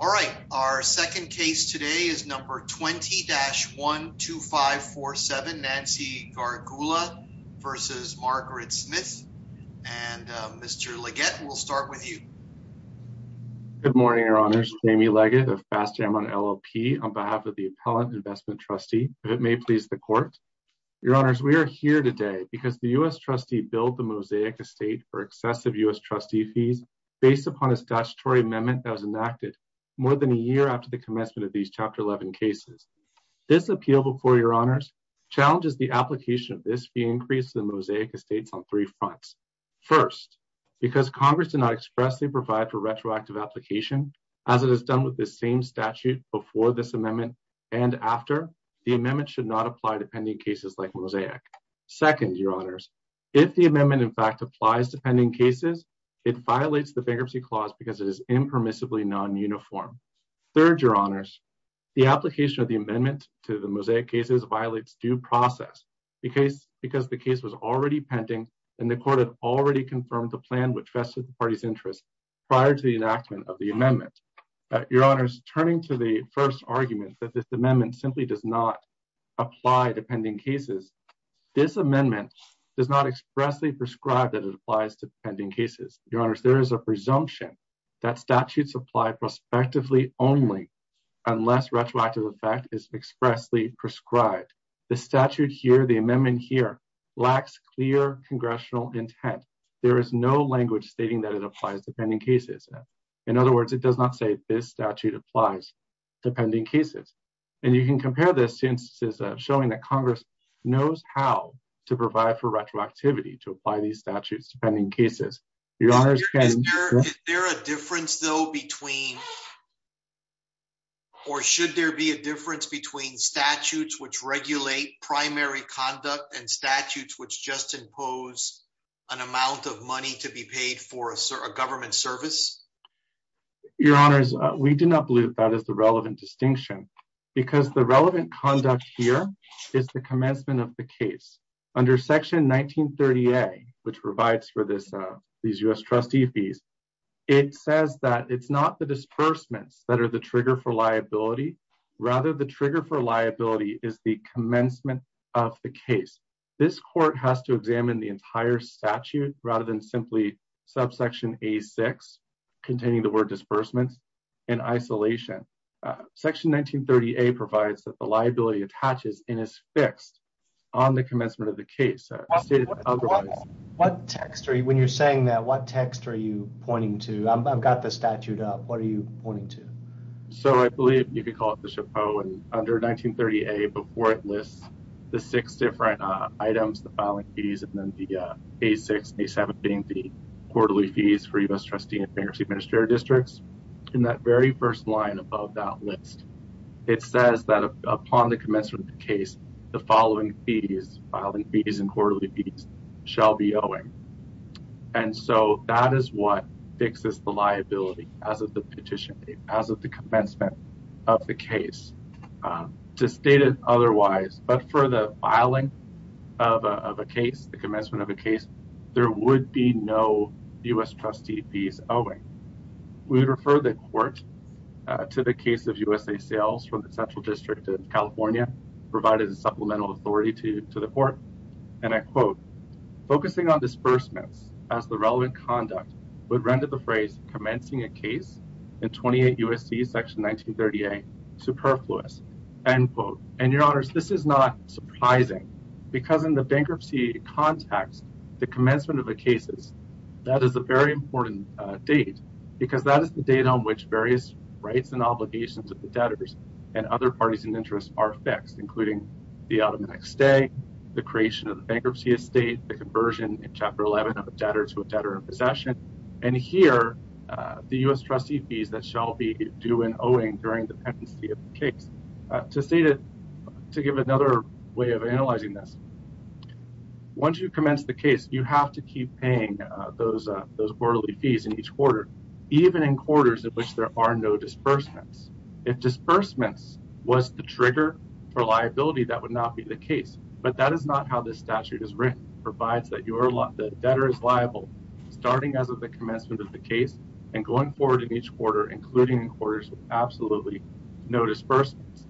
All right, our second case today is number 20-12547, Nancy Gargula v. Margaret Smith. And Mr. Leggett, we'll start with you. Good morning, Your Honours. Jamie Leggett of Fast Jam on LLP on behalf of the Appellant Investment Trustee, if it may please the Court. Your Honours, we are here today because the U.S. trustee billed the Mosaic Estate for excessive U.S. trustee fees based upon a statutory amendment that was enacted more than a year after the commencement of these Chapter 11 cases. This appeal, before Your Honours, challenges the application of this fee increase to the Mosaic Estates on three fronts. First, because Congress did not expressly provide for retroactive application, as it has done with this same statute before this amendment and after, the amendment should not apply to pending cases like Mosaic. Second, Your Honours, if the Third, Your Honours, the application of the amendment to the Mosaic cases violates due process because the case was already pending and the Court had already confirmed the plan which vested the party's interest prior to the enactment of the amendment. Your Honours, turning to the first argument that this amendment simply does not apply to pending cases, this amendment does not expressly prescribe that it applies to pending cases. Your Honours, there is a presumption that statutes apply prospectively only unless retroactive effect is expressly prescribed. The statute here, the amendment here, lacks clear congressional intent. There is no language stating that it applies to pending cases. In other words, it does not say this statute applies to pending cases. And you can compare this to instances of showing that Congress knows how to provide for retroactivity to apply these statutes to pending cases. Your Honours, is there a difference though between, or should there be a difference between statutes which regulate primary conduct and statutes which just impose an amount of money to be paid for a government service? Your Honours, we do not believe that is the relevant distinction because the relevant conduct here is the commencement of case. Under Section 1930A, which provides for these U.S. trustee fees, it says that it's not the disbursements that are the trigger for liability, rather the trigger for liability is the commencement of the case. This court has to examine the entire statute rather than simply subsection A6 containing the word disbursements in isolation. Section 1930A provides that the commencement of the case. What text are you, when you're saying that, what text are you pointing to? I've got the statute up. What are you pointing to? So, I believe you could call it the chapeau. Under 1930A, before it lists the six different items, the filing fees, and then the A6, A7 being the quarterly fees for U.S. trustee and bankruptcy administrative districts, in that very first line above that list, it says that upon the commencement of the case, the following fees, filing fees and quarterly fees, shall be owing. And so, that is what fixes the liability as of the petition date, as of the commencement of the case. To state it otherwise, but for the filing of a case, the commencement of a case, there would be no U.S. trustee fees owing. We would refer the court to the case of USA Sales from the Central District of California, provided a supplemental authority to the court. And I quote, focusing on disbursements as the relevant conduct would render the phrase commencing a case in 28 U.S.C. Section 1930A superfluous, end quote. And your honors, this is not surprising, because in the bankruptcy context, the commencement of the cases, that is a very important date, because that is the date on which various rights and obligations of the debtors and other parties and interests are fixed, including the automatic stay, the creation of the bankruptcy estate, the conversion in Chapter 11 of a debtor to a debtor in possession, and here, the U.S. trustee fees that shall be due and owing during the pendency of the case. To state it, to give another way of analyzing this, once you commence the case, you have to keep paying those quarterly fees in each quarter, even in quarters in which there are no disbursements. If disbursements was the trigger for liability, that would not be the case. But that is not how this statute is written, provides that the debtor is liable starting as of the commencement of the case and going forward in each quarter, including quarters with absolutely no disbursements.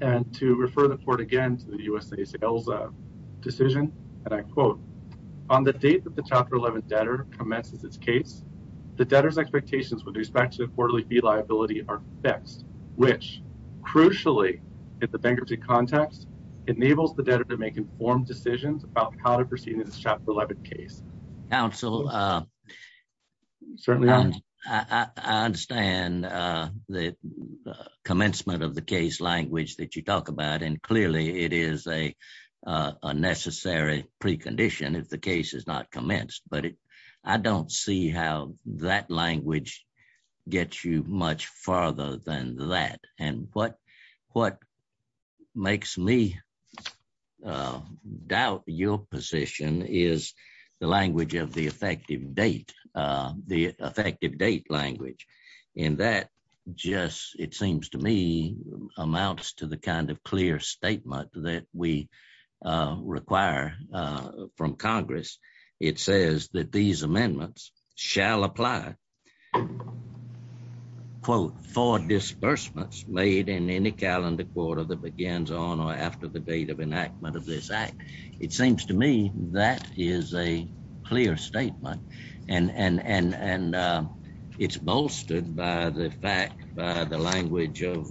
And to refer the court again to the USA Sales decision, and I quote, on the date that the Chapter 11 debtor commences its case, the debtor's expectations with respect to the quarterly fee liability are fixed, which, crucially, at the bankruptcy context, enables the debtor to make informed decisions about how to proceed in this Chapter 11 case. Counsel, I understand the commencement of the case language that you talk about, and clearly, it is a necessary precondition if the case is not commenced. But I don't see how that language gets you much farther than that. And what makes me doubt your position is the language of the that we require from Congress. It says that these amendments shall apply, quote, for disbursements made in any calendar quarter that begins on or after the date of enactment of this act. It seems to me that is a clear statement. And it's bolstered by the fact, by the language of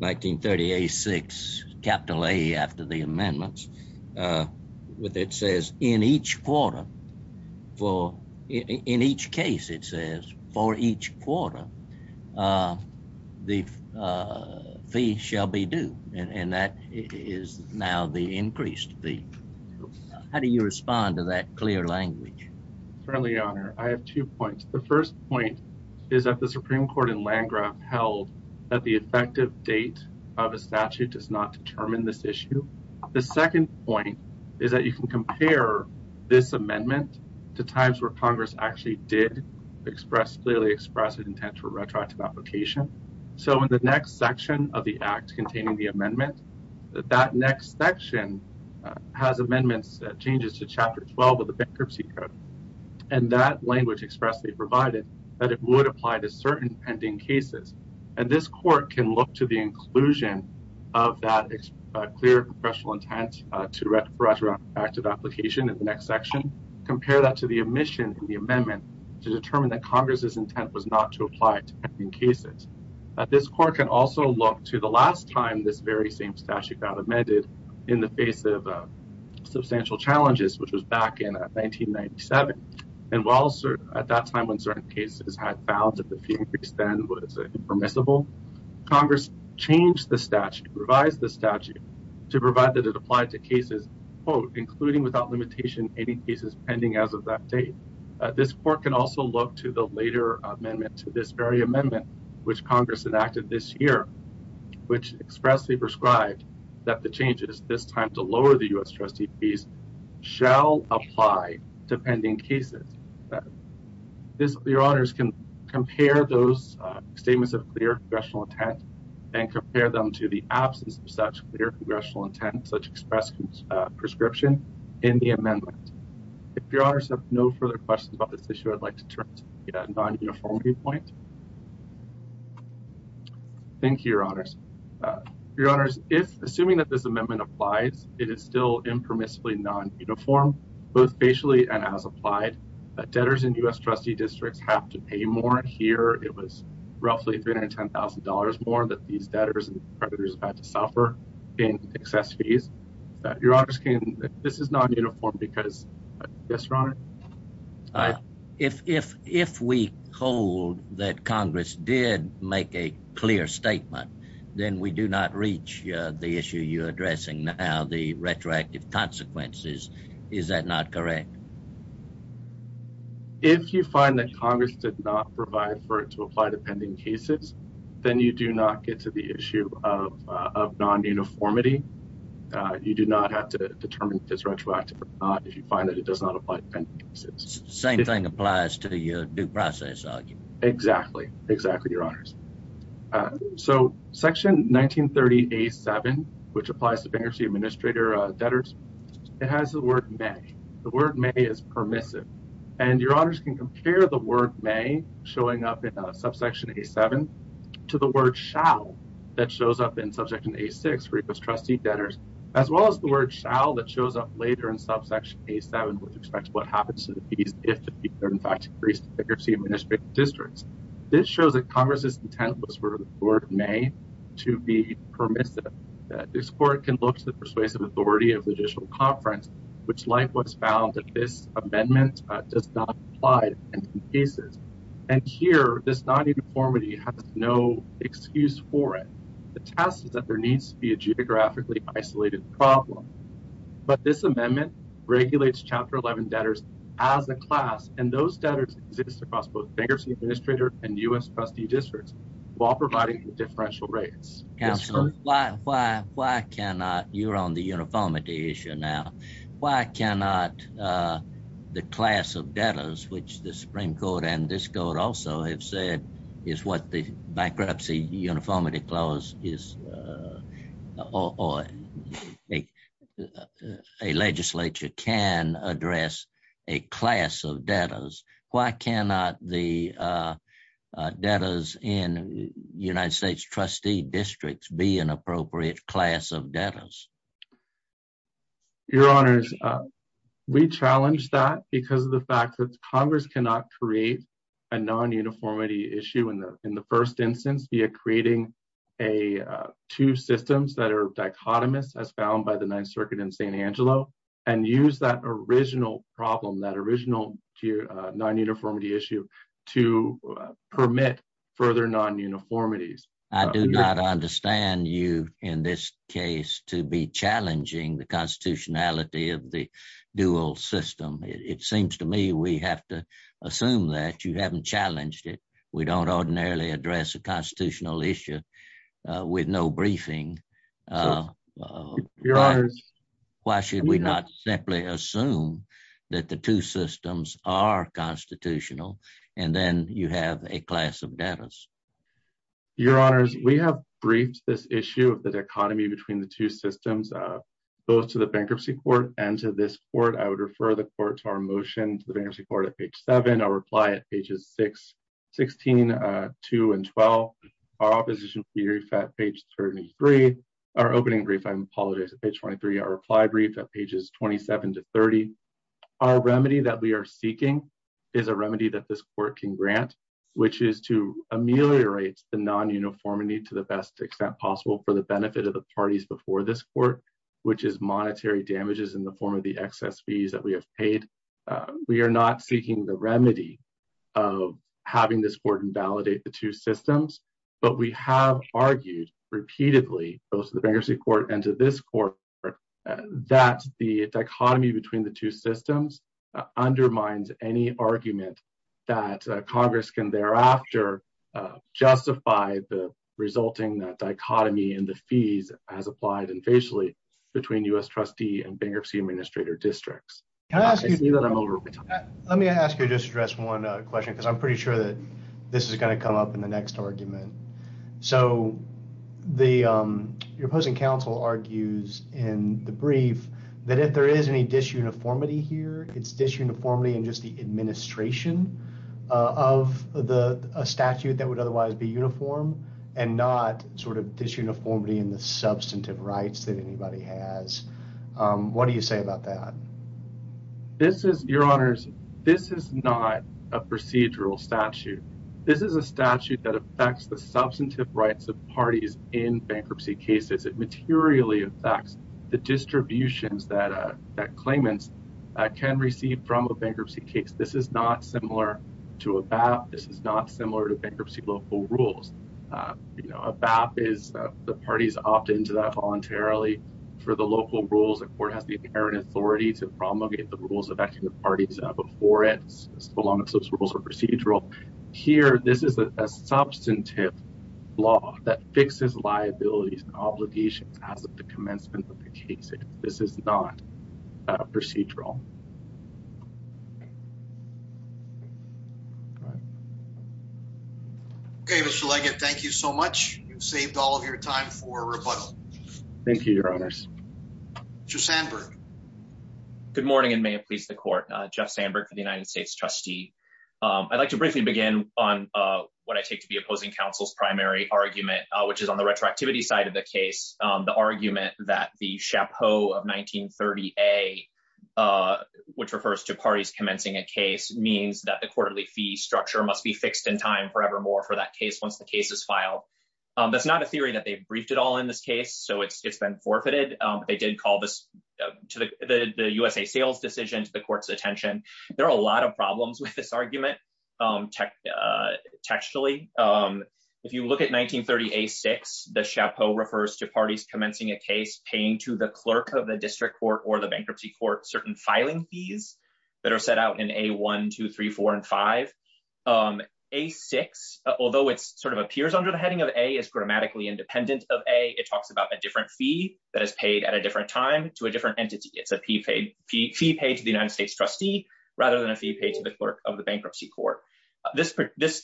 1938-6, capital A after the amendments, with it says, in each quarter, for in each case, it says, for each quarter, the fee shall be due. And that is now the increased fee. How do you respond to that clear language? Certainly, Your Honor. I have two points. The first point is that the Supreme Court in Landgraf held that the effective date of a statute does not determine this issue. The second point is that you can compare this amendment to times where Congress actually did clearly express its intent for retroactive application. So, in the next section of the amendment, it changes to Chapter 12 of the Bankruptcy Code. And that language expressly provided that it would apply to certain pending cases. And this Court can look to the inclusion of that clear intent to retroactive application in the next section, compare that to the omission in the amendment to determine that Congress's intent was not to apply to pending cases. This Court can also look to the last time this very same statute got amended in the face of substantial challenges, which was back in 1997. And while at that time when certain cases had found that the fee increase then was impermissible, Congress changed the statute, revised the statute to provide that it applied to cases, quote, including without limitation any cases pending as of that date. This Court can also look to the later amendment to this very amendment, which Congress enacted this year, which expressly prescribed that the changes this time to lower the U.S. trustee fees shall apply to pending cases. Your Honours can compare those statements of clear congressional intent and compare them to the absence of such clear congressional intent, such express prescription in the amendment. If Your Honours have no further questions about this issue, I'd like to turn to the non-uniformity point. Thank you, Your Honours. Your Honours, assuming that this amendment applies, it is still impermissibly non-uniform, both facially and as applied. Debtors in U.S. trustee districts have to pay more here. It was roughly $310,000 more that these debtors and creditors had to suffer in excess fees. Your Honours, this is non-uniform because, yes, Your Honour? If we hold that Congress did make a clear statement, then we do not reach the issue you're addressing now, the retroactive consequences. Is that not correct? If you find that Congress did not provide for it to apply to pending cases, then you do not get to the issue of non-uniformity. You do not have to Same thing applies to your due process argument. Exactly. Exactly, Your Honours. Section 1930A7, which applies to bankruptcy administrator debtors, it has the word may. The word may is permissive. Your Honours can compare the word may showing up in subsection A7 to the word shall that shows up in subsection A6 for U.S. trustee debtors, as well as the word shall that shows up later in subsection A7, which expects what happens to the fees if the fees are, in fact, increased to bankruptcy administrator districts. This shows that Congress's intent was for the word may to be permissive. This court can look to the persuasive authority of the judicial conference, which likewise found that this amendment does not apply to pending cases. And here, this non-uniformity has no excuse for it. The task is that there needs to be a geographically isolated problem, but this amendment regulates Chapter 11 debtors as a class, and those debtors exist across both bankruptcy administrator and U.S. trustee districts while providing differential rates. Counselor, why, why, why cannot you're on the uniformity issue now? Why cannot the class of debtors, which the Supreme Court and this court also have said is what the bankruptcy uniformity clause is, or a legislature can address a class of debtors. Why cannot the debtors in United States trustee districts be an appropriate class of debtors? Your honors, we challenged that because of the fact that Congress cannot create a non-uniformity issue in the, in the first instance, via creating a, uh, two systems that are dichotomous as found by the ninth circuit in St. Angelo and use that original problem, that original non-uniformity issue to permit further non-uniformities. I do not understand you in this case to be challenging the constitutionality of the dual system. It hasn't challenged it. We don't ordinarily address a constitutional issue with no briefing. Why should we not simply assume that the two systems are constitutional and then you have a class of debtors? Your honors, we have briefed this issue of the dichotomy between the two systems, uh, both to the bankruptcy court and to this court. I would refer the court to our motion at page 7, our reply at pages 6, 16, uh, 2 and 12, our opposition brief at page 33, our opening brief, I apologize, at page 23, our reply brief at pages 27 to 30. Our remedy that we are seeking is a remedy that this court can grant, which is to ameliorate the non-uniformity to the best extent possible for the benefit of the parties before this court, which is monetary damages in the form of the excess fees that we have paid. We are not seeking the remedy of having this court invalidate the two systems, but we have argued repeatedly both to the bankruptcy court and to this court that the dichotomy between the two systems undermines any argument that Congress can thereafter, uh, justify the resulting dichotomy in the fees as applied and facially between U.S. trustee and bankruptcy administrator districts. Can I ask you, let me ask you just address one question because I'm pretty sure that this is going to come up in the next argument. So the, um, your opposing counsel argues in the brief that if there is any disuniformity here, it's disuniformity in just the administration of the statute that would otherwise be uniform and not sort of disuniformity in the substantive rights that anybody has. Um, what do you say about that? This is, your honors, this is not a procedural statute. This is a statute that affects the substantive rights of parties in bankruptcy cases. It received from a bankruptcy case. This is not similar to a BAP. This is not similar to bankruptcy local rules. Uh, you know, a BAP is, uh, the parties opt into that voluntarily for the local rules. The court has the inherent authority to promulgate the rules of acting the parties before it. So long as those rules are procedural here, this is a substantive law that fixes liabilities and obligations as of the commencement of the case. This is not a procedural. Okay, Mr. Leggett, thank you so much. You've saved all of your time for rebuttal. Thank you, your honors. Mr. Sandberg. Good morning and may it please the court. Jeff Sandberg for the United States trustee. I'd like to briefly begin on what I take to be opposing counsel's primary argument, which is on the retroactivity side of the case. The argument that the chapeau of 1930-A, which refers to parties commencing a case, means that the quarterly fee structure must be fixed in time forevermore for that case once the case is filed. That's not a theory that they've briefed it all in this case, so it's been forfeited. They did call this to the USA sales decision to the court's attention. There are a lot of problems with this argument textually. If you look at 1930-A-6, the chapeau refers to parties commencing a case paying to the clerk of the district court or the bankruptcy court certain filing fees that are set out in A-1, 2, 3, 4, and 5. A-6, although it sort of appears under the heading of A, is grammatically independent of A. It talks about a different fee that is paid at a different time to a different entity. It's a fee paid to the United States trustee rather than a fee paid to the clerk of the bankruptcy court. The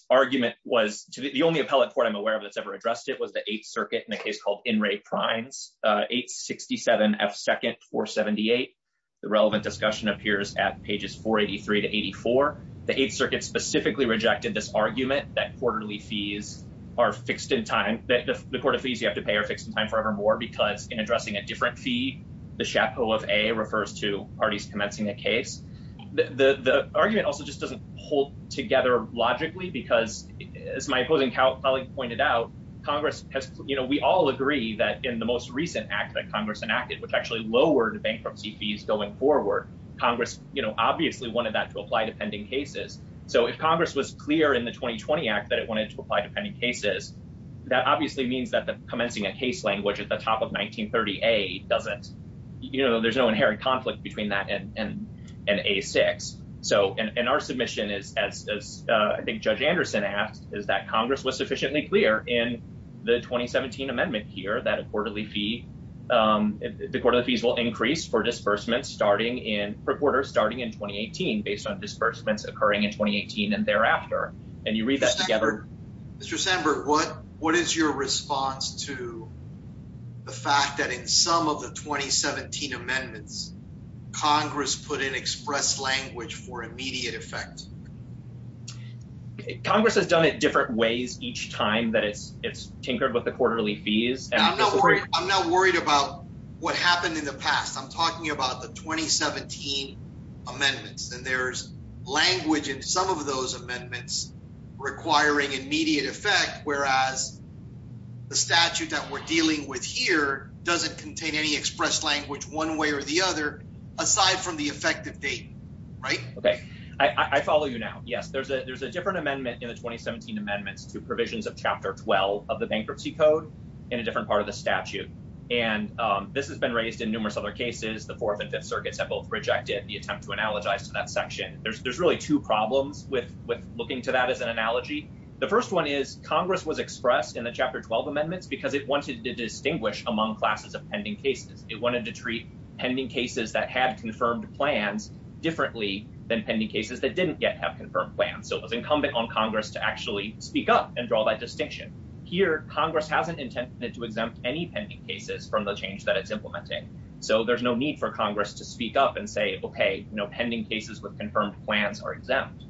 only appellate court I'm aware of that's ever addressed it was the 8th Circuit in a case called In re Primes, 867 F. 2nd 478. The relevant discussion appears at pages 483 to 84. The 8th Circuit specifically rejected this argument that the court of fees you have to pay are fixed in time forevermore because in addressing a different fee, the chapeau of A refers to parties commencing a case. The argument also just doesn't hold together logically because as my opposing colleague pointed out, Congress has, you know, we all agree that in the most recent act that Congress enacted, which actually lowered bankruptcy fees going forward, Congress, you know, obviously wanted that to apply to pending cases. So if Congress was clear in the 2020 Act that it wanted to apply to pending cases, that obviously means that the commencing a case language at the top of doesn't, you know, there's no inherent conflict between that and and and a six. So and our submission is, as I think Judge Anderson asked, is that Congress was sufficiently clear in the 2017 amendment here that a quarterly fee, um, the court of fees will increase for disbursements starting in per quarter starting in 2018 based on disbursements occurring in 2018 and thereafter. And you read that together. Mr Sandberg, what what is your response to the fact that in some of the 2017 amendments, Congress put in express language for immediate effect? Congress has done it different ways each time that it's it's tinkered with the quarterly fees. And I'm not worried. I'm not worried about what happened in the past. I'm talking about the 2017 amendments, and there's language in some of those amendments requiring immediate effect, whereas the statute that we're dealing with here doesn't contain any express language one way or the other aside from the effective date, right? Okay, I follow you now. Yes, there's a there's a different amendment in the 2017 amendments to provisions of Chapter 12 of the bankruptcy code in a different part of the statute, and this has been raised in numerous other cases. The Fourth and Fifth Attempt to analogize to that section. There's really two problems with looking to that as an analogy. The first one is Congress was expressed in the Chapter 12 amendments because it wanted to distinguish among classes of pending cases. It wanted to treat pending cases that had confirmed plans differently than pending cases that didn't yet have confirmed plans. So it was incumbent on Congress to actually speak up and draw that distinction. Here, Congress hasn't intended to exempt any pending cases from the change that it's implementing. So there's no need for Congress to say, okay, no pending cases with confirmed plans are exempt.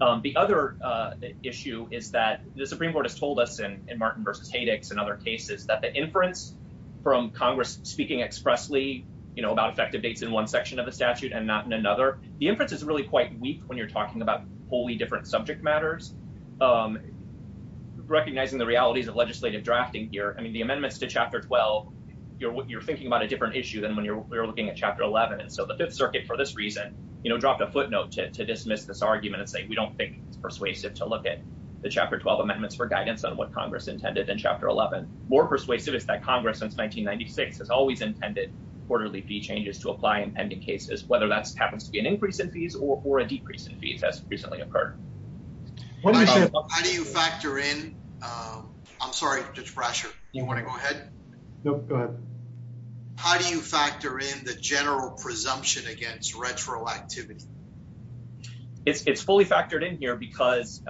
The other issue is that the Supreme Court has told us in Martin vs. Haydix and other cases that the inference from Congress speaking expressly about effective dates in one section of the statute and not in another. The inference is really quite weak when you're talking about wholly different subject matters. Recognizing the realities of legislative drafting here, I mean, the amendments to Chapter 12, you're thinking about a and so the Fifth Circuit for this reason, you know, dropped a footnote to dismiss this argument and say, we don't think it's persuasive to look at the Chapter 12 amendments for guidance on what Congress intended in Chapter 11. More persuasive is that Congress since 1996 has always intended quarterly fee changes to apply in pending cases, whether that happens to be an increase in fees or a decrease in fees as recently occurred. How do you factor in, I'm sorry, Judge Brasher, you want to go ahead? Nope, go ahead. How do you factor in the general presumption against retroactivity? It's fully factored in here because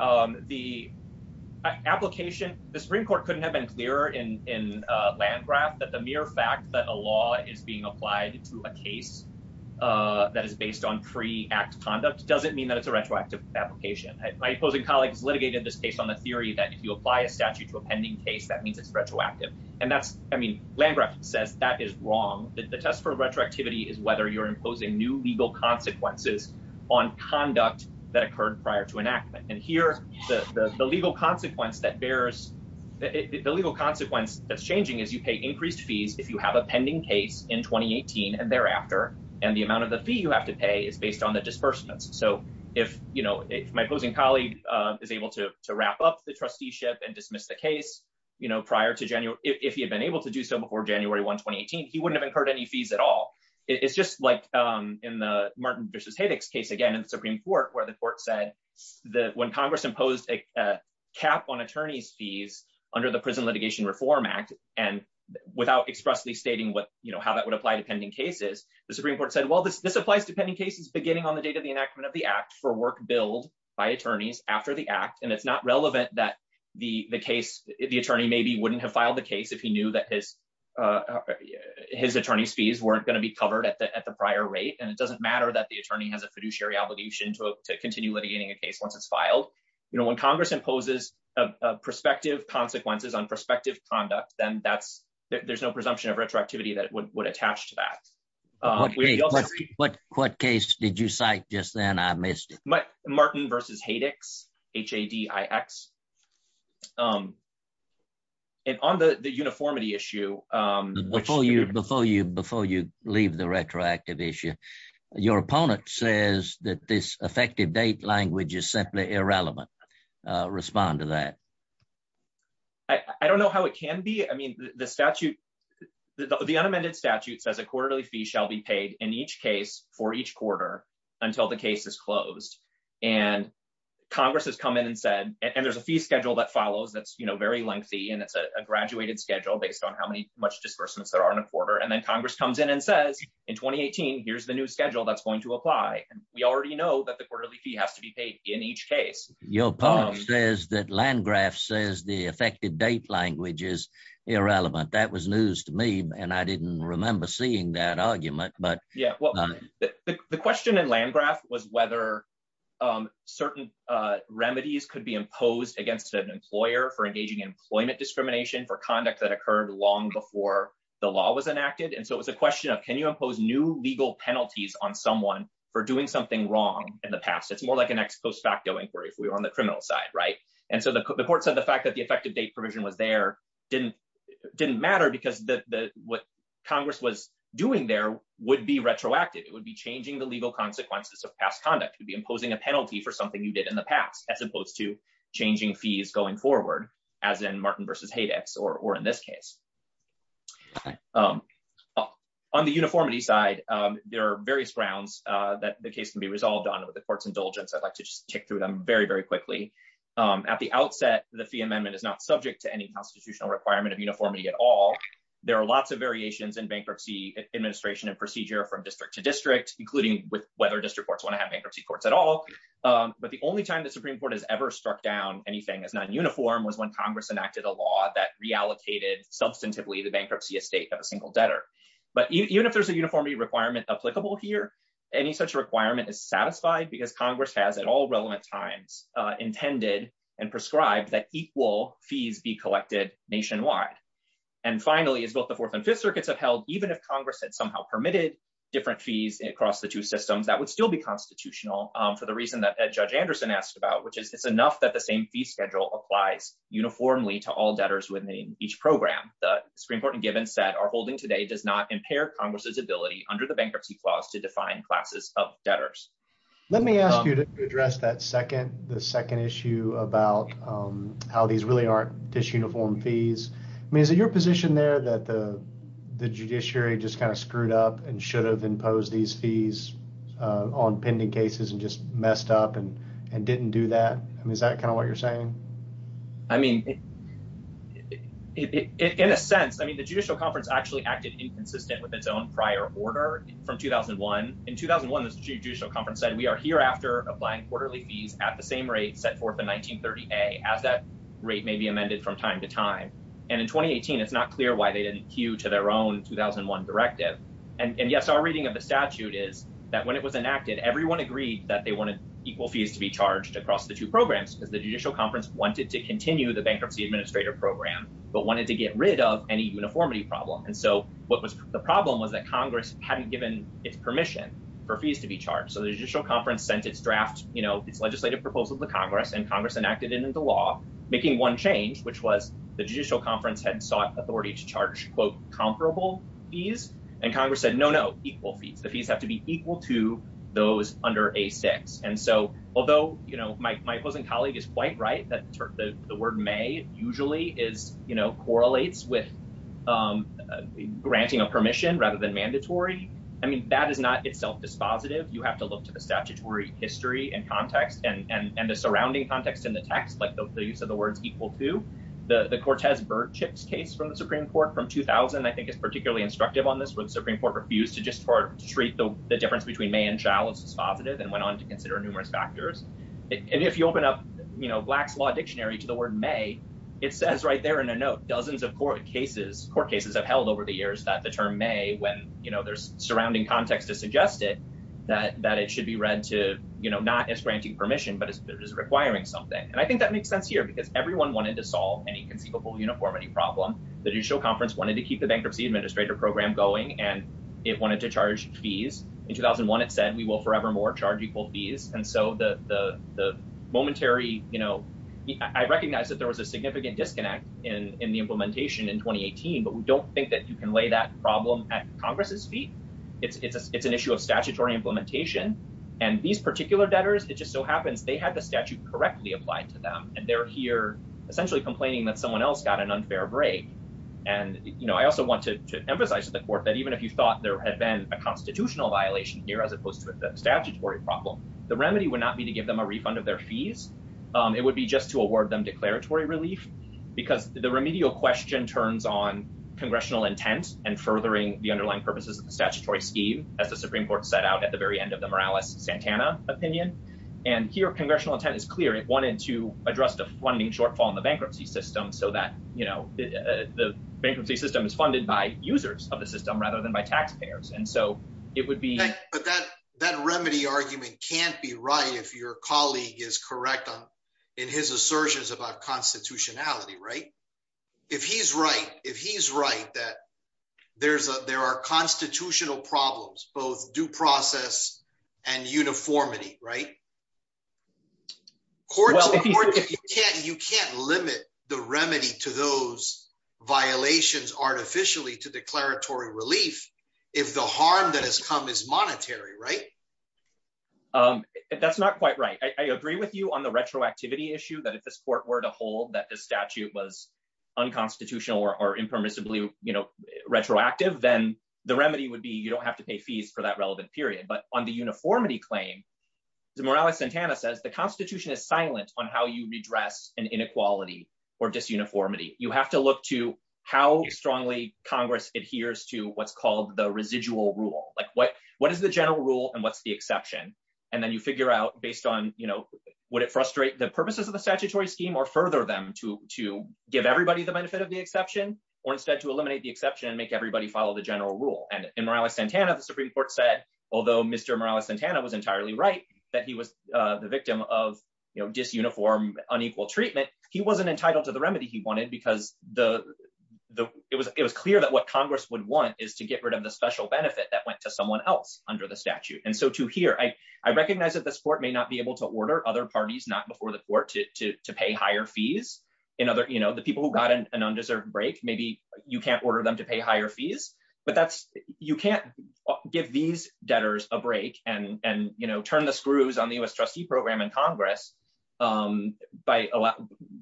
the application, the Supreme Court couldn't have been clearer in Landgraf that the mere fact that a law is being applied to a case that is based on pre-act conduct doesn't mean that it's a retroactive application. My opposing colleagues litigated this case on the theory that if you apply a statute to a pending case, that means it's retroactive. And that's, I mean, Landgraf says that is wrong. The test for retroactivity is whether you're imposing new legal consequences on conduct that occurred prior to enactment. And here, the legal consequence that bears, the legal consequence that's changing is you pay increased fees if you have a pending case in 2018 and thereafter, and the amount of the fee you have to pay is based on the disbursements. So if, you know, if my opposing colleague is able to prior to January, if he had been able to do so before January 1, 2018, he wouldn't have incurred any fees at all. It's just like in the Martin v. Haydick's case, again, in the Supreme Court, where the court said that when Congress imposed a cap on attorney's fees under the Prison Litigation Reform Act, and without expressly stating what, you know, how that would apply to pending cases, the Supreme Court said, well, this applies to pending cases beginning on the date of the enactment of the act for work billed by attorneys after the act. And it's not relevant that the attorney maybe wouldn't have filed the case if he knew that his attorney's fees weren't going to be covered at the prior rate. And it doesn't matter that the attorney has a fiduciary obligation to continue litigating a case once it's filed. You know, when Congress imposes prospective consequences on prospective conduct, then that's, there's no presumption of retroactivity that would attach to that. What case did you cite just then? I missed it. Martin v. Haydick's, H-A-D-I-X. And on the uniformity issue... Before you leave the retroactive issue, your opponent says that this effective date language is simply irrelevant. Respond to that. I don't know how it can be. I mean, the statute, the unamended statute says a quarterly fee shall be paid in each case for each quarter until the case is closed. And Congress has come in and said, and there's a fee schedule that follows that's, you know, very lengthy. And it's a graduated schedule based on how many, much disbursements there are in a quarter. And then Congress comes in and says, in 2018, here's the new schedule that's going to apply. And we already know that the quarterly fee has to be paid in each case. Your opponent says that Landgraf says the effective date language is irrelevant. That was news to me. And I didn't remember seeing that argument, but... The question in Landgraf was whether certain remedies could be imposed against an employer for engaging in employment discrimination for conduct that occurred long before the law was enacted. And so it was a question of, can you impose new legal penalties on someone for doing something wrong in the past? It's more like an ex post facto inquiry if we were on the criminal side, right? And so the court said the fact that the effective date provision was there didn't matter because what Congress was doing there would be retroactive. It would be changing the legal consequences of past conduct. It would be imposing a penalty for something you did in the past, as opposed to changing fees going forward, as in Martin versus Haydex, or in this case. On the uniformity side, there are various grounds that the case can be resolved on with the court's indulgence. I'd like to just tick through them very, very quickly. At the outset, the fee amendment is not subject to any constitutional requirement of uniformity at all. There are lots of variations in bankruptcy administration and procedure from district to district, including whether district courts want to have bankruptcy courts at all. But the only time the Supreme Court has ever struck down anything as non-uniform was when Congress enacted a law that reallocated substantively the bankruptcy estate of a single debtor. But even if there's a uniformity requirement applicable here, any such requirement is satisfied because Congress has at all relevant times intended and prescribed that equal fees be collected nationwide. And finally, as both the Fourth and Fifth Circuits have held, even if Congress had somehow permitted different fees across the two systems, that would still be constitutional for the reason that Judge Anderson asked about, which is it's enough that the same fee schedule applies uniformly to all debtors within each program. The Supreme Court in Givens that are holding today does not impair Congress's ability under the bankruptcy clause to define classes of debtors. Let me ask you to address that second, the second issue about how these really aren't disuniform fees. I mean, is it your position there that the judiciary just kind of screwed up and should have imposed these fees on pending cases and just messed up and didn't do that? I mean, is that kind of what you're saying? I mean, in a sense, I mean, the Judicial Conference actually acted inconsistent with its own prior order from 2001. In 2001, the Judicial Conference said, we are hereafter applying quarterly fees at the same rate set forth in 1938 as that rate may be amended from time to time. And in 2018, it's not clear why they didn't queue to their own 2001 directive. And yes, our reading of the statute is that when it was enacted, everyone agreed that they wanted equal fees to be charged across the two programs because the Judicial Conference wanted to what was the problem was that Congress hadn't given its permission for fees to be charged. So the Judicial Conference sent its draft, you know, its legislative proposal to Congress and Congress enacted it into law, making one change, which was the Judicial Conference had sought authority to charge, quote, comparable fees. And Congress said, no, no, equal fees. The fees have to be equal to those under a six. And so although, you know, Mike, my cousin colleague is quite right that the word may usually is, you know, correlates with granting a permission rather than mandatory. I mean, that is not itself dispositive. You have to look to the statutory history and context and the surrounding context in the text, like the use of the words equal to the Cortez-Birdchips case from the Supreme Court from 2000, I think is particularly instructive on this, where the Supreme Court refused to just treat the difference between may and shall as dispositive and went on to consider numerous factors. And if you open up Black's Law Dictionary to the word may, it says right there in a note, dozens of court cases have held over the years that the term may, when, you know, there's surrounding context to suggest it, that it should be read to, you know, not as granting permission, but as requiring something. And I think that makes sense here, because everyone wanted to solve any conceivable uniformity problem. The Judicial Conference wanted to keep the bankruptcy administrator program going, and it wanted to charge fees. In 2001, it said, we will forevermore charge equal fees. And so the momentary, you know, I recognize that there was a significant disconnect in the implementation in 2018, but we don't think that you can lay that problem at Congress's feet. It's an issue of statutory implementation. And these particular debtors, it just so happens they had the statute correctly applied to them. And they're here essentially complaining that someone else got an unfair break. And, you know, I also want to emphasize to the court that even if you thought there had been a constitutional violation here, as opposed to the statutory problem, the remedy would not be to give them a refund of their fees. It would be just to award them declaratory relief, because the remedial question turns on congressional intent and furthering the underlying purposes of the statutory scheme, as the Supreme Court set out at the very end of the Morales-Santana opinion. And here, congressional intent is clear. It wanted to address the funding shortfall in the bankruptcy system so that, you know, the bankruptcy system is funded by users of the system rather than by taxpayers. And so it would be... But that remedy argument can't be right if your colleague is correct in his assertions about constitutionality, right? If he's right, if he's right that there are constitutional problems, both due process and uniformity, right? You can't limit the remedy to those violations artificially to declaratory relief. If the harm that has come is monetary, right? That's not quite right. I agree with you on the retroactivity issue, that if this court were to hold that the statute was unconstitutional or impermissibly, you know, retroactive, then the remedy would be you don't have to pay fees for that relevant period. But on the uniformity claim, the Morales-Santana says the Constitution is silent on how you redress an inequality or disuniformity. You have to look to how strongly Congress adheres to what's called the residual rule. Like what is the general rule and what's the exception? And then you figure out based on, you know, would it frustrate the purposes of the statutory scheme or further them to give everybody the benefit of the exception or instead to eliminate the exception and make everybody follow the general rule? And in Morales-Santana, the Supreme Court said, although Mr. Morales-Santana was entirely right that he was the victim of, you know, disuniform unequal treatment, he wasn't entitled to the remedy he wanted because it was clear that Congress would want is to get rid of the special benefit that went to someone else under the statute. And so to here, I recognize that this court may not be able to order other parties not before the court to pay higher fees. You know, the people who got an undeserved break, maybe you can't order them to pay higher fees, but you can't give these debtors a break and, you know, turn the screws on the U.S. trustee program in Congress by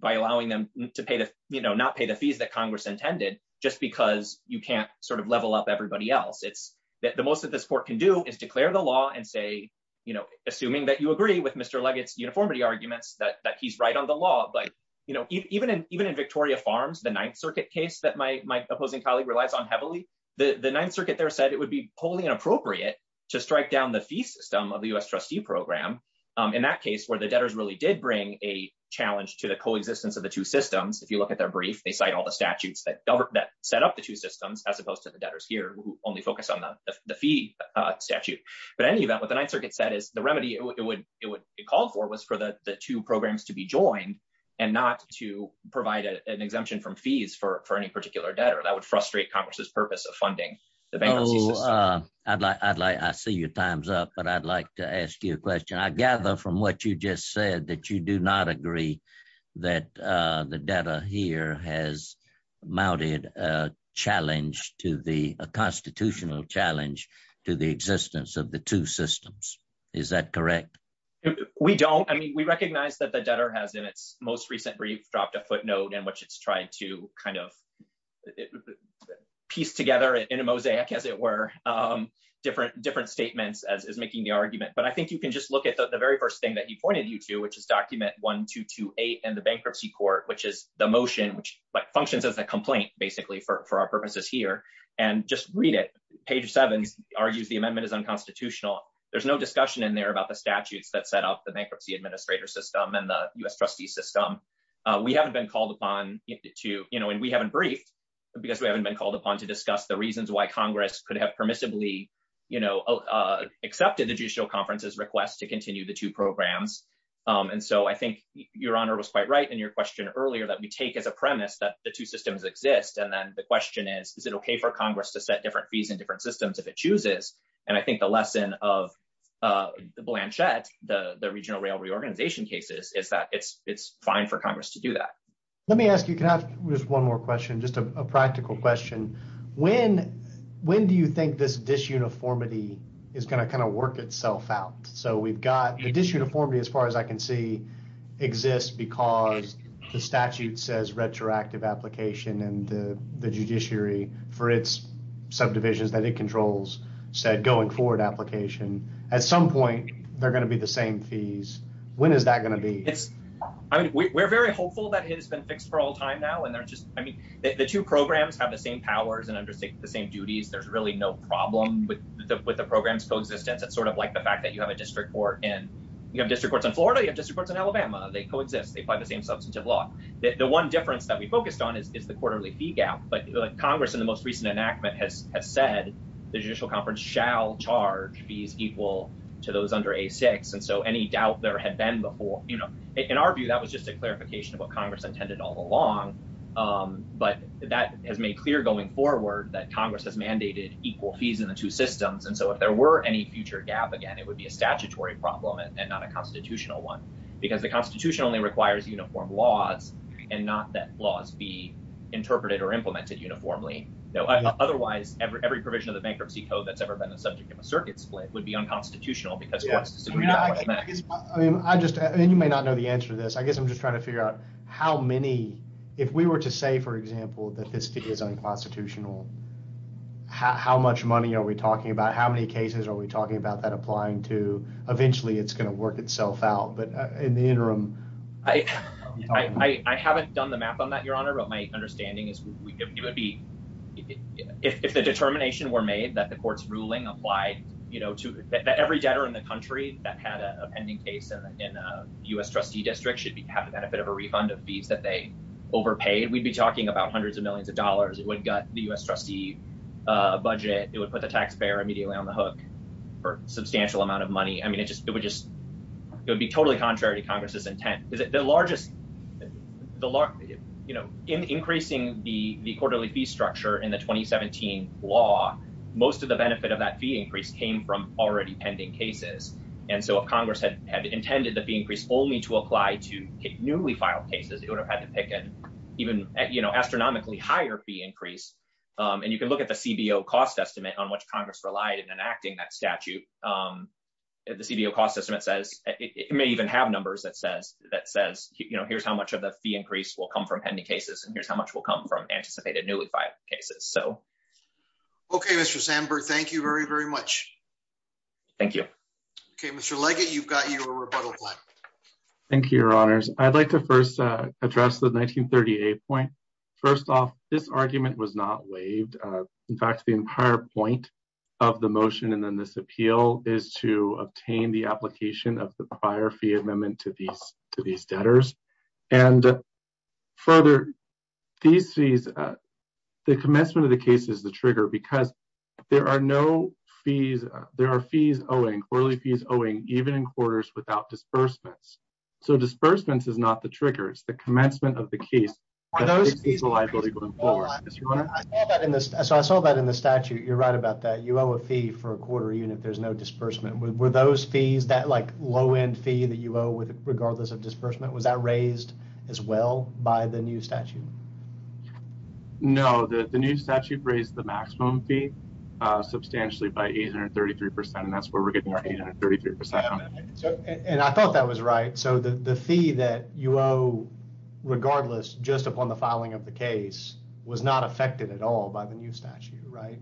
allowing them to pay the, you know, not pay the fees that Congress intended just because you can't sort of level up everybody else. It's that the most that this court can do is declare the law and say, you know, assuming that you agree with Mr. Leggett's uniformity arguments that he's right on the law. But, you know, even in Victoria Farms, the Ninth Circuit case that my opposing colleague relies on heavily, the Ninth Circuit there said it would be wholly inappropriate to strike down the fee system of the U.S. trustee program. In that case, where the debtors really did bring a challenge to the coexistence of the two systems, if you look at their brief, they cite all the statutes that set up the two systems, as opposed to the debtors here who only focus on the fee statute. But in any event, what the Ninth Circuit said is the remedy it would call for was for the two programs to be joined and not to provide an exemption from fees for any particular debtor. That would frustrate Congress's purpose of funding the bankruptcy system. Oh, I see your time's up, but I'd like to ask you a question. I gather from what you just said that you do not agree that the debtor here has mounted a challenge to the constitutional challenge to the existence of the two systems. Is that correct? We don't. I mean, we recognize that the debtor has in its most recent brief dropped a footnote in which it's trying to kind of piece together in a mosaic, as it were, different statements as is making the argument. But I think you can just look at the very first thing that he pointed you to, which is document 1228 and the bankruptcy court, which is the motion, which functions as a complaint basically for our purposes here, and just read it. Page seven argues the amendment is unconstitutional. There's no discussion in there about the statutes that set up the bankruptcy administrator system and the U.S. trustee system. We haven't been called upon to, you know, and we haven't briefed because we haven't been called upon to discuss the reasons why Congress could have permissibly, you know, accepted the judicial conference's request to continue the two programs. And so I think your honor was quite right in your question earlier that we take as a premise that the two systems exist. And then the question is, is it okay for Congress to set different fees in different systems if it chooses? And I think the lesson of the Blanchette, the regional rail reorganization cases, is that it's fine for Congress to do that. Let me ask you, can I, there's one more question, just a practical question. When do you think this disuniformity is going to kind of work itself out? So we've got the disuniformity as far as I can see exists because the statute says retroactive application and the judiciary for its subdivisions that it controls said going forward application. At some point they're going to be the same fees. When is that going to be? It's, I mean, we're very hopeful that it has been fixed for all time now. And they're just, I mean, the two programs have the same powers and undertake the same duties. There's really no problem with the, with the program's coexistence. It's sort of like the fact that you have a district court and you have district courts in Florida, you have district courts in Alabama, they coexist. They apply the same substantive law. The one difference that we focused on is the quarterly fee gap. But Congress in the most recent enactment has said the judicial conference shall charge fees equal to those under a six. And so any doubt there had been before, you know, in our view, that was just a clarification of what Congress intended all along. But that has made clear going forward that Congress has mandated equal fees in the two systems. And so if there were any future gap, again, it would be a statutory problem and not a constitutional one because the constitution only requires uniform laws and not that laws be interpreted or implemented uniformly. Otherwise every provision of the bankruptcy code that's ever been a subject of a circuit split would be unconstitutional because courts disuniformly And you may not know the answer to this. I guess I'm just trying to figure out how many, if we were to say, for example, that this is unconstitutional, how much money are we talking about? How many cases are we talking about that applying to eventually it's going to work itself out, but in the interim. I, I, I haven't done the map on that, Your Honor, but my understanding is it would be, if the determination were made that the court's ruling applied, you know, to every debtor in the U.S. trustee district should have the benefit of a refund of fees that they overpaid. We'd be talking about hundreds of millions of dollars. It would gut the U.S. trustee budget. It would put the taxpayer immediately on the hook for substantial amount of money. I mean, it just, it would just, it would be totally contrary to Congress's intent. Is it the largest, the largest, you know, in increasing the quarterly fee structure in the 2017 law, most of the benefit of that fee increase came from already pending cases. And so if Congress had intended the fee increase only to apply to newly filed cases, it would have had to pick an even astronomically higher fee increase. And you can look at the CBO cost estimate on which Congress relied in enacting that statute. The CBO cost estimate says it may even have numbers that says, that says, you know, here's how much of the fee increase will come from pending cases. And here's how much will come from anticipated newly filed cases. So. Okay, Mr. Sandberg, thank you very, very much. Thank you. Okay, Mr. Leggett, you've got your rebuttal. Thank you, your honors. I'd like to first address the 1938 point. First off, this argument was not waived. In fact, the entire point of the motion and then this appeal is to obtain the application of the prior fee amendment to these, to these debtors. And further, these fees, the commencement of the case is the trigger because there are no fees. There are fees owing, quarterly fees owing, even in quarters without disbursements. So disbursements is not the trigger, it's the commencement of the case. So I saw that in the statute. You're right about that. You owe a fee for a quarter, even if there's no disbursement. Were those fees that like low end fee that you owe with regardless of disbursement, was that raised as well by the new statute? No, the new statute raised the maximum fee substantially by 833%. And that's where we're getting our 833%. And I thought that was right. So the fee that you owe, regardless, just upon the filing of the case was not affected at all by the new statute, right?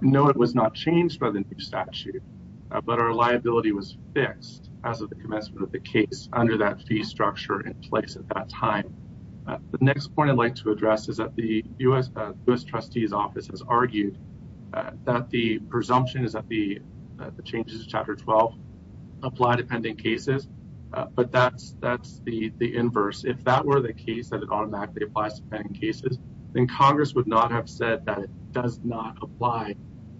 No, it was not changed by the new statute. But our liability was fixed as of the commencement of the case under that fee structure in place at that time. The next point I'd like to address is that the U.S. Trustee's Office has argued that the presumption is that the changes to Chapter 12 apply to pending cases. But that's the inverse. If that were the case that it automatically applies to pending cases, then Congress would not have said that it does not apply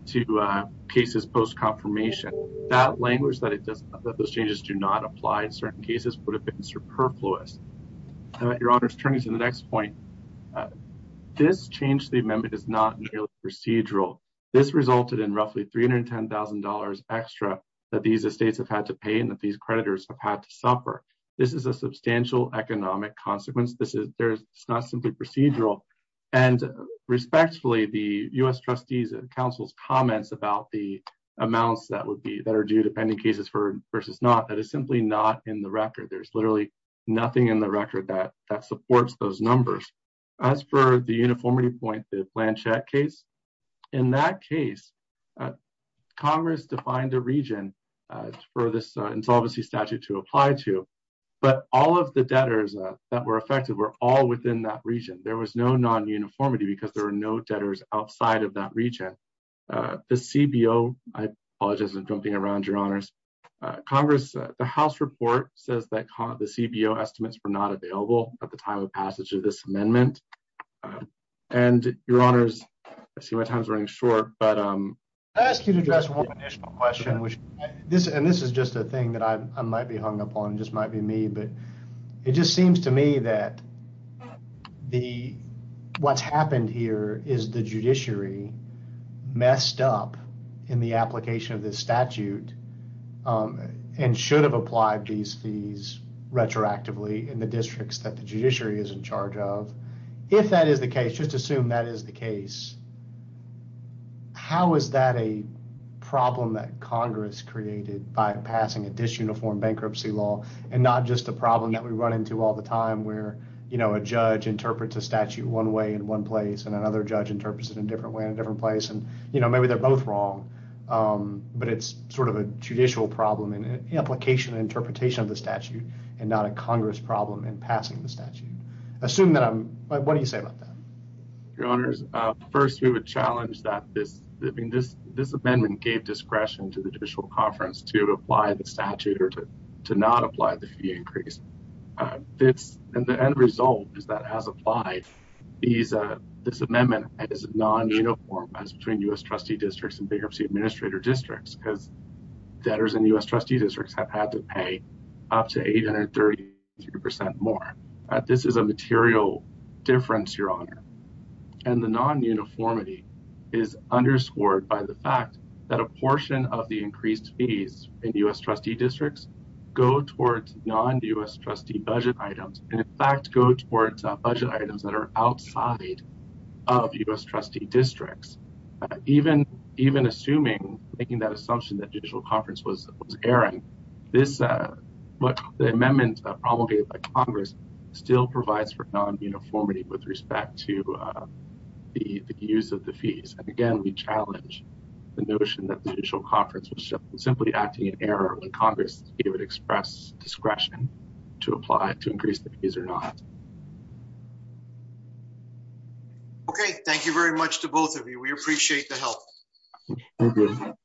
to cases post confirmation. That language that it does, that those changes do not apply in certain cases would have been superfluous. Your Honor's turning to the next point. This change to the amendment is not procedural. This resulted in roughly $310,000 extra that these estates have had to pay and that these creditors have had to suffer. This is a substantial economic consequence. This is not procedural. And respectfully, the U.S. Trustees and Council's comments about the amounts that would be, that are due to pending cases versus not, that is simply not in the record. There's literally nothing in the record that supports those numbers. As for the uniformity point, the plan check case, in that case, Congress defined a region for this insolvency statute to that region. There was no non-uniformity because there were no debtors outside of that region. The CBO, I apologize for jumping around, Your Honors. Congress, the House report says that the CBO estimates were not available at the time of passage of this amendment. And Your Honors, I see my time's running short, but um... I ask you to address one additional question, which this, and this is just a thing that I might be hung up on, just might be me, but it just seems to me that the, what's happened here is the judiciary messed up in the application of this statute and should have applied these fees retroactively in the districts that the judiciary is in charge of. If that is the case, just assume that is the case, how is that a problem that we run into all the time where, you know, a judge interprets a statute one way in one place and another judge interprets it in a different way in a different place? And, you know, maybe they're both wrong, but it's sort of a judicial problem in the application and interpretation of the statute and not a Congress problem in passing the statute. Assume that I'm, what do you say about that? Your Honors, first we would challenge that this, I mean, this amendment gave discretion to the increase. This, and the end result is that as applied, this amendment is non-uniform as between U.S. trustee districts and bankruptcy administrator districts because debtors in U.S. trustee districts have had to pay up to 833 percent more. This is a material difference, Your Honor, and the non-uniformity is underscored by the fact that a portion of the increased fees in U.S. trustee districts go towards non-U.S. trustee budget items and, in fact, go towards budget items that are outside of U.S. trustee districts. Even assuming, making that assumption that judicial conference was erring, this, the amendment promulgated by Congress still provides for non-uniformity with respect to the use of the fees. And, again, we challenge the notion that Congress would express discretion to apply to increase the fees or not. Okay, thank you very much to both of you. We appreciate the help.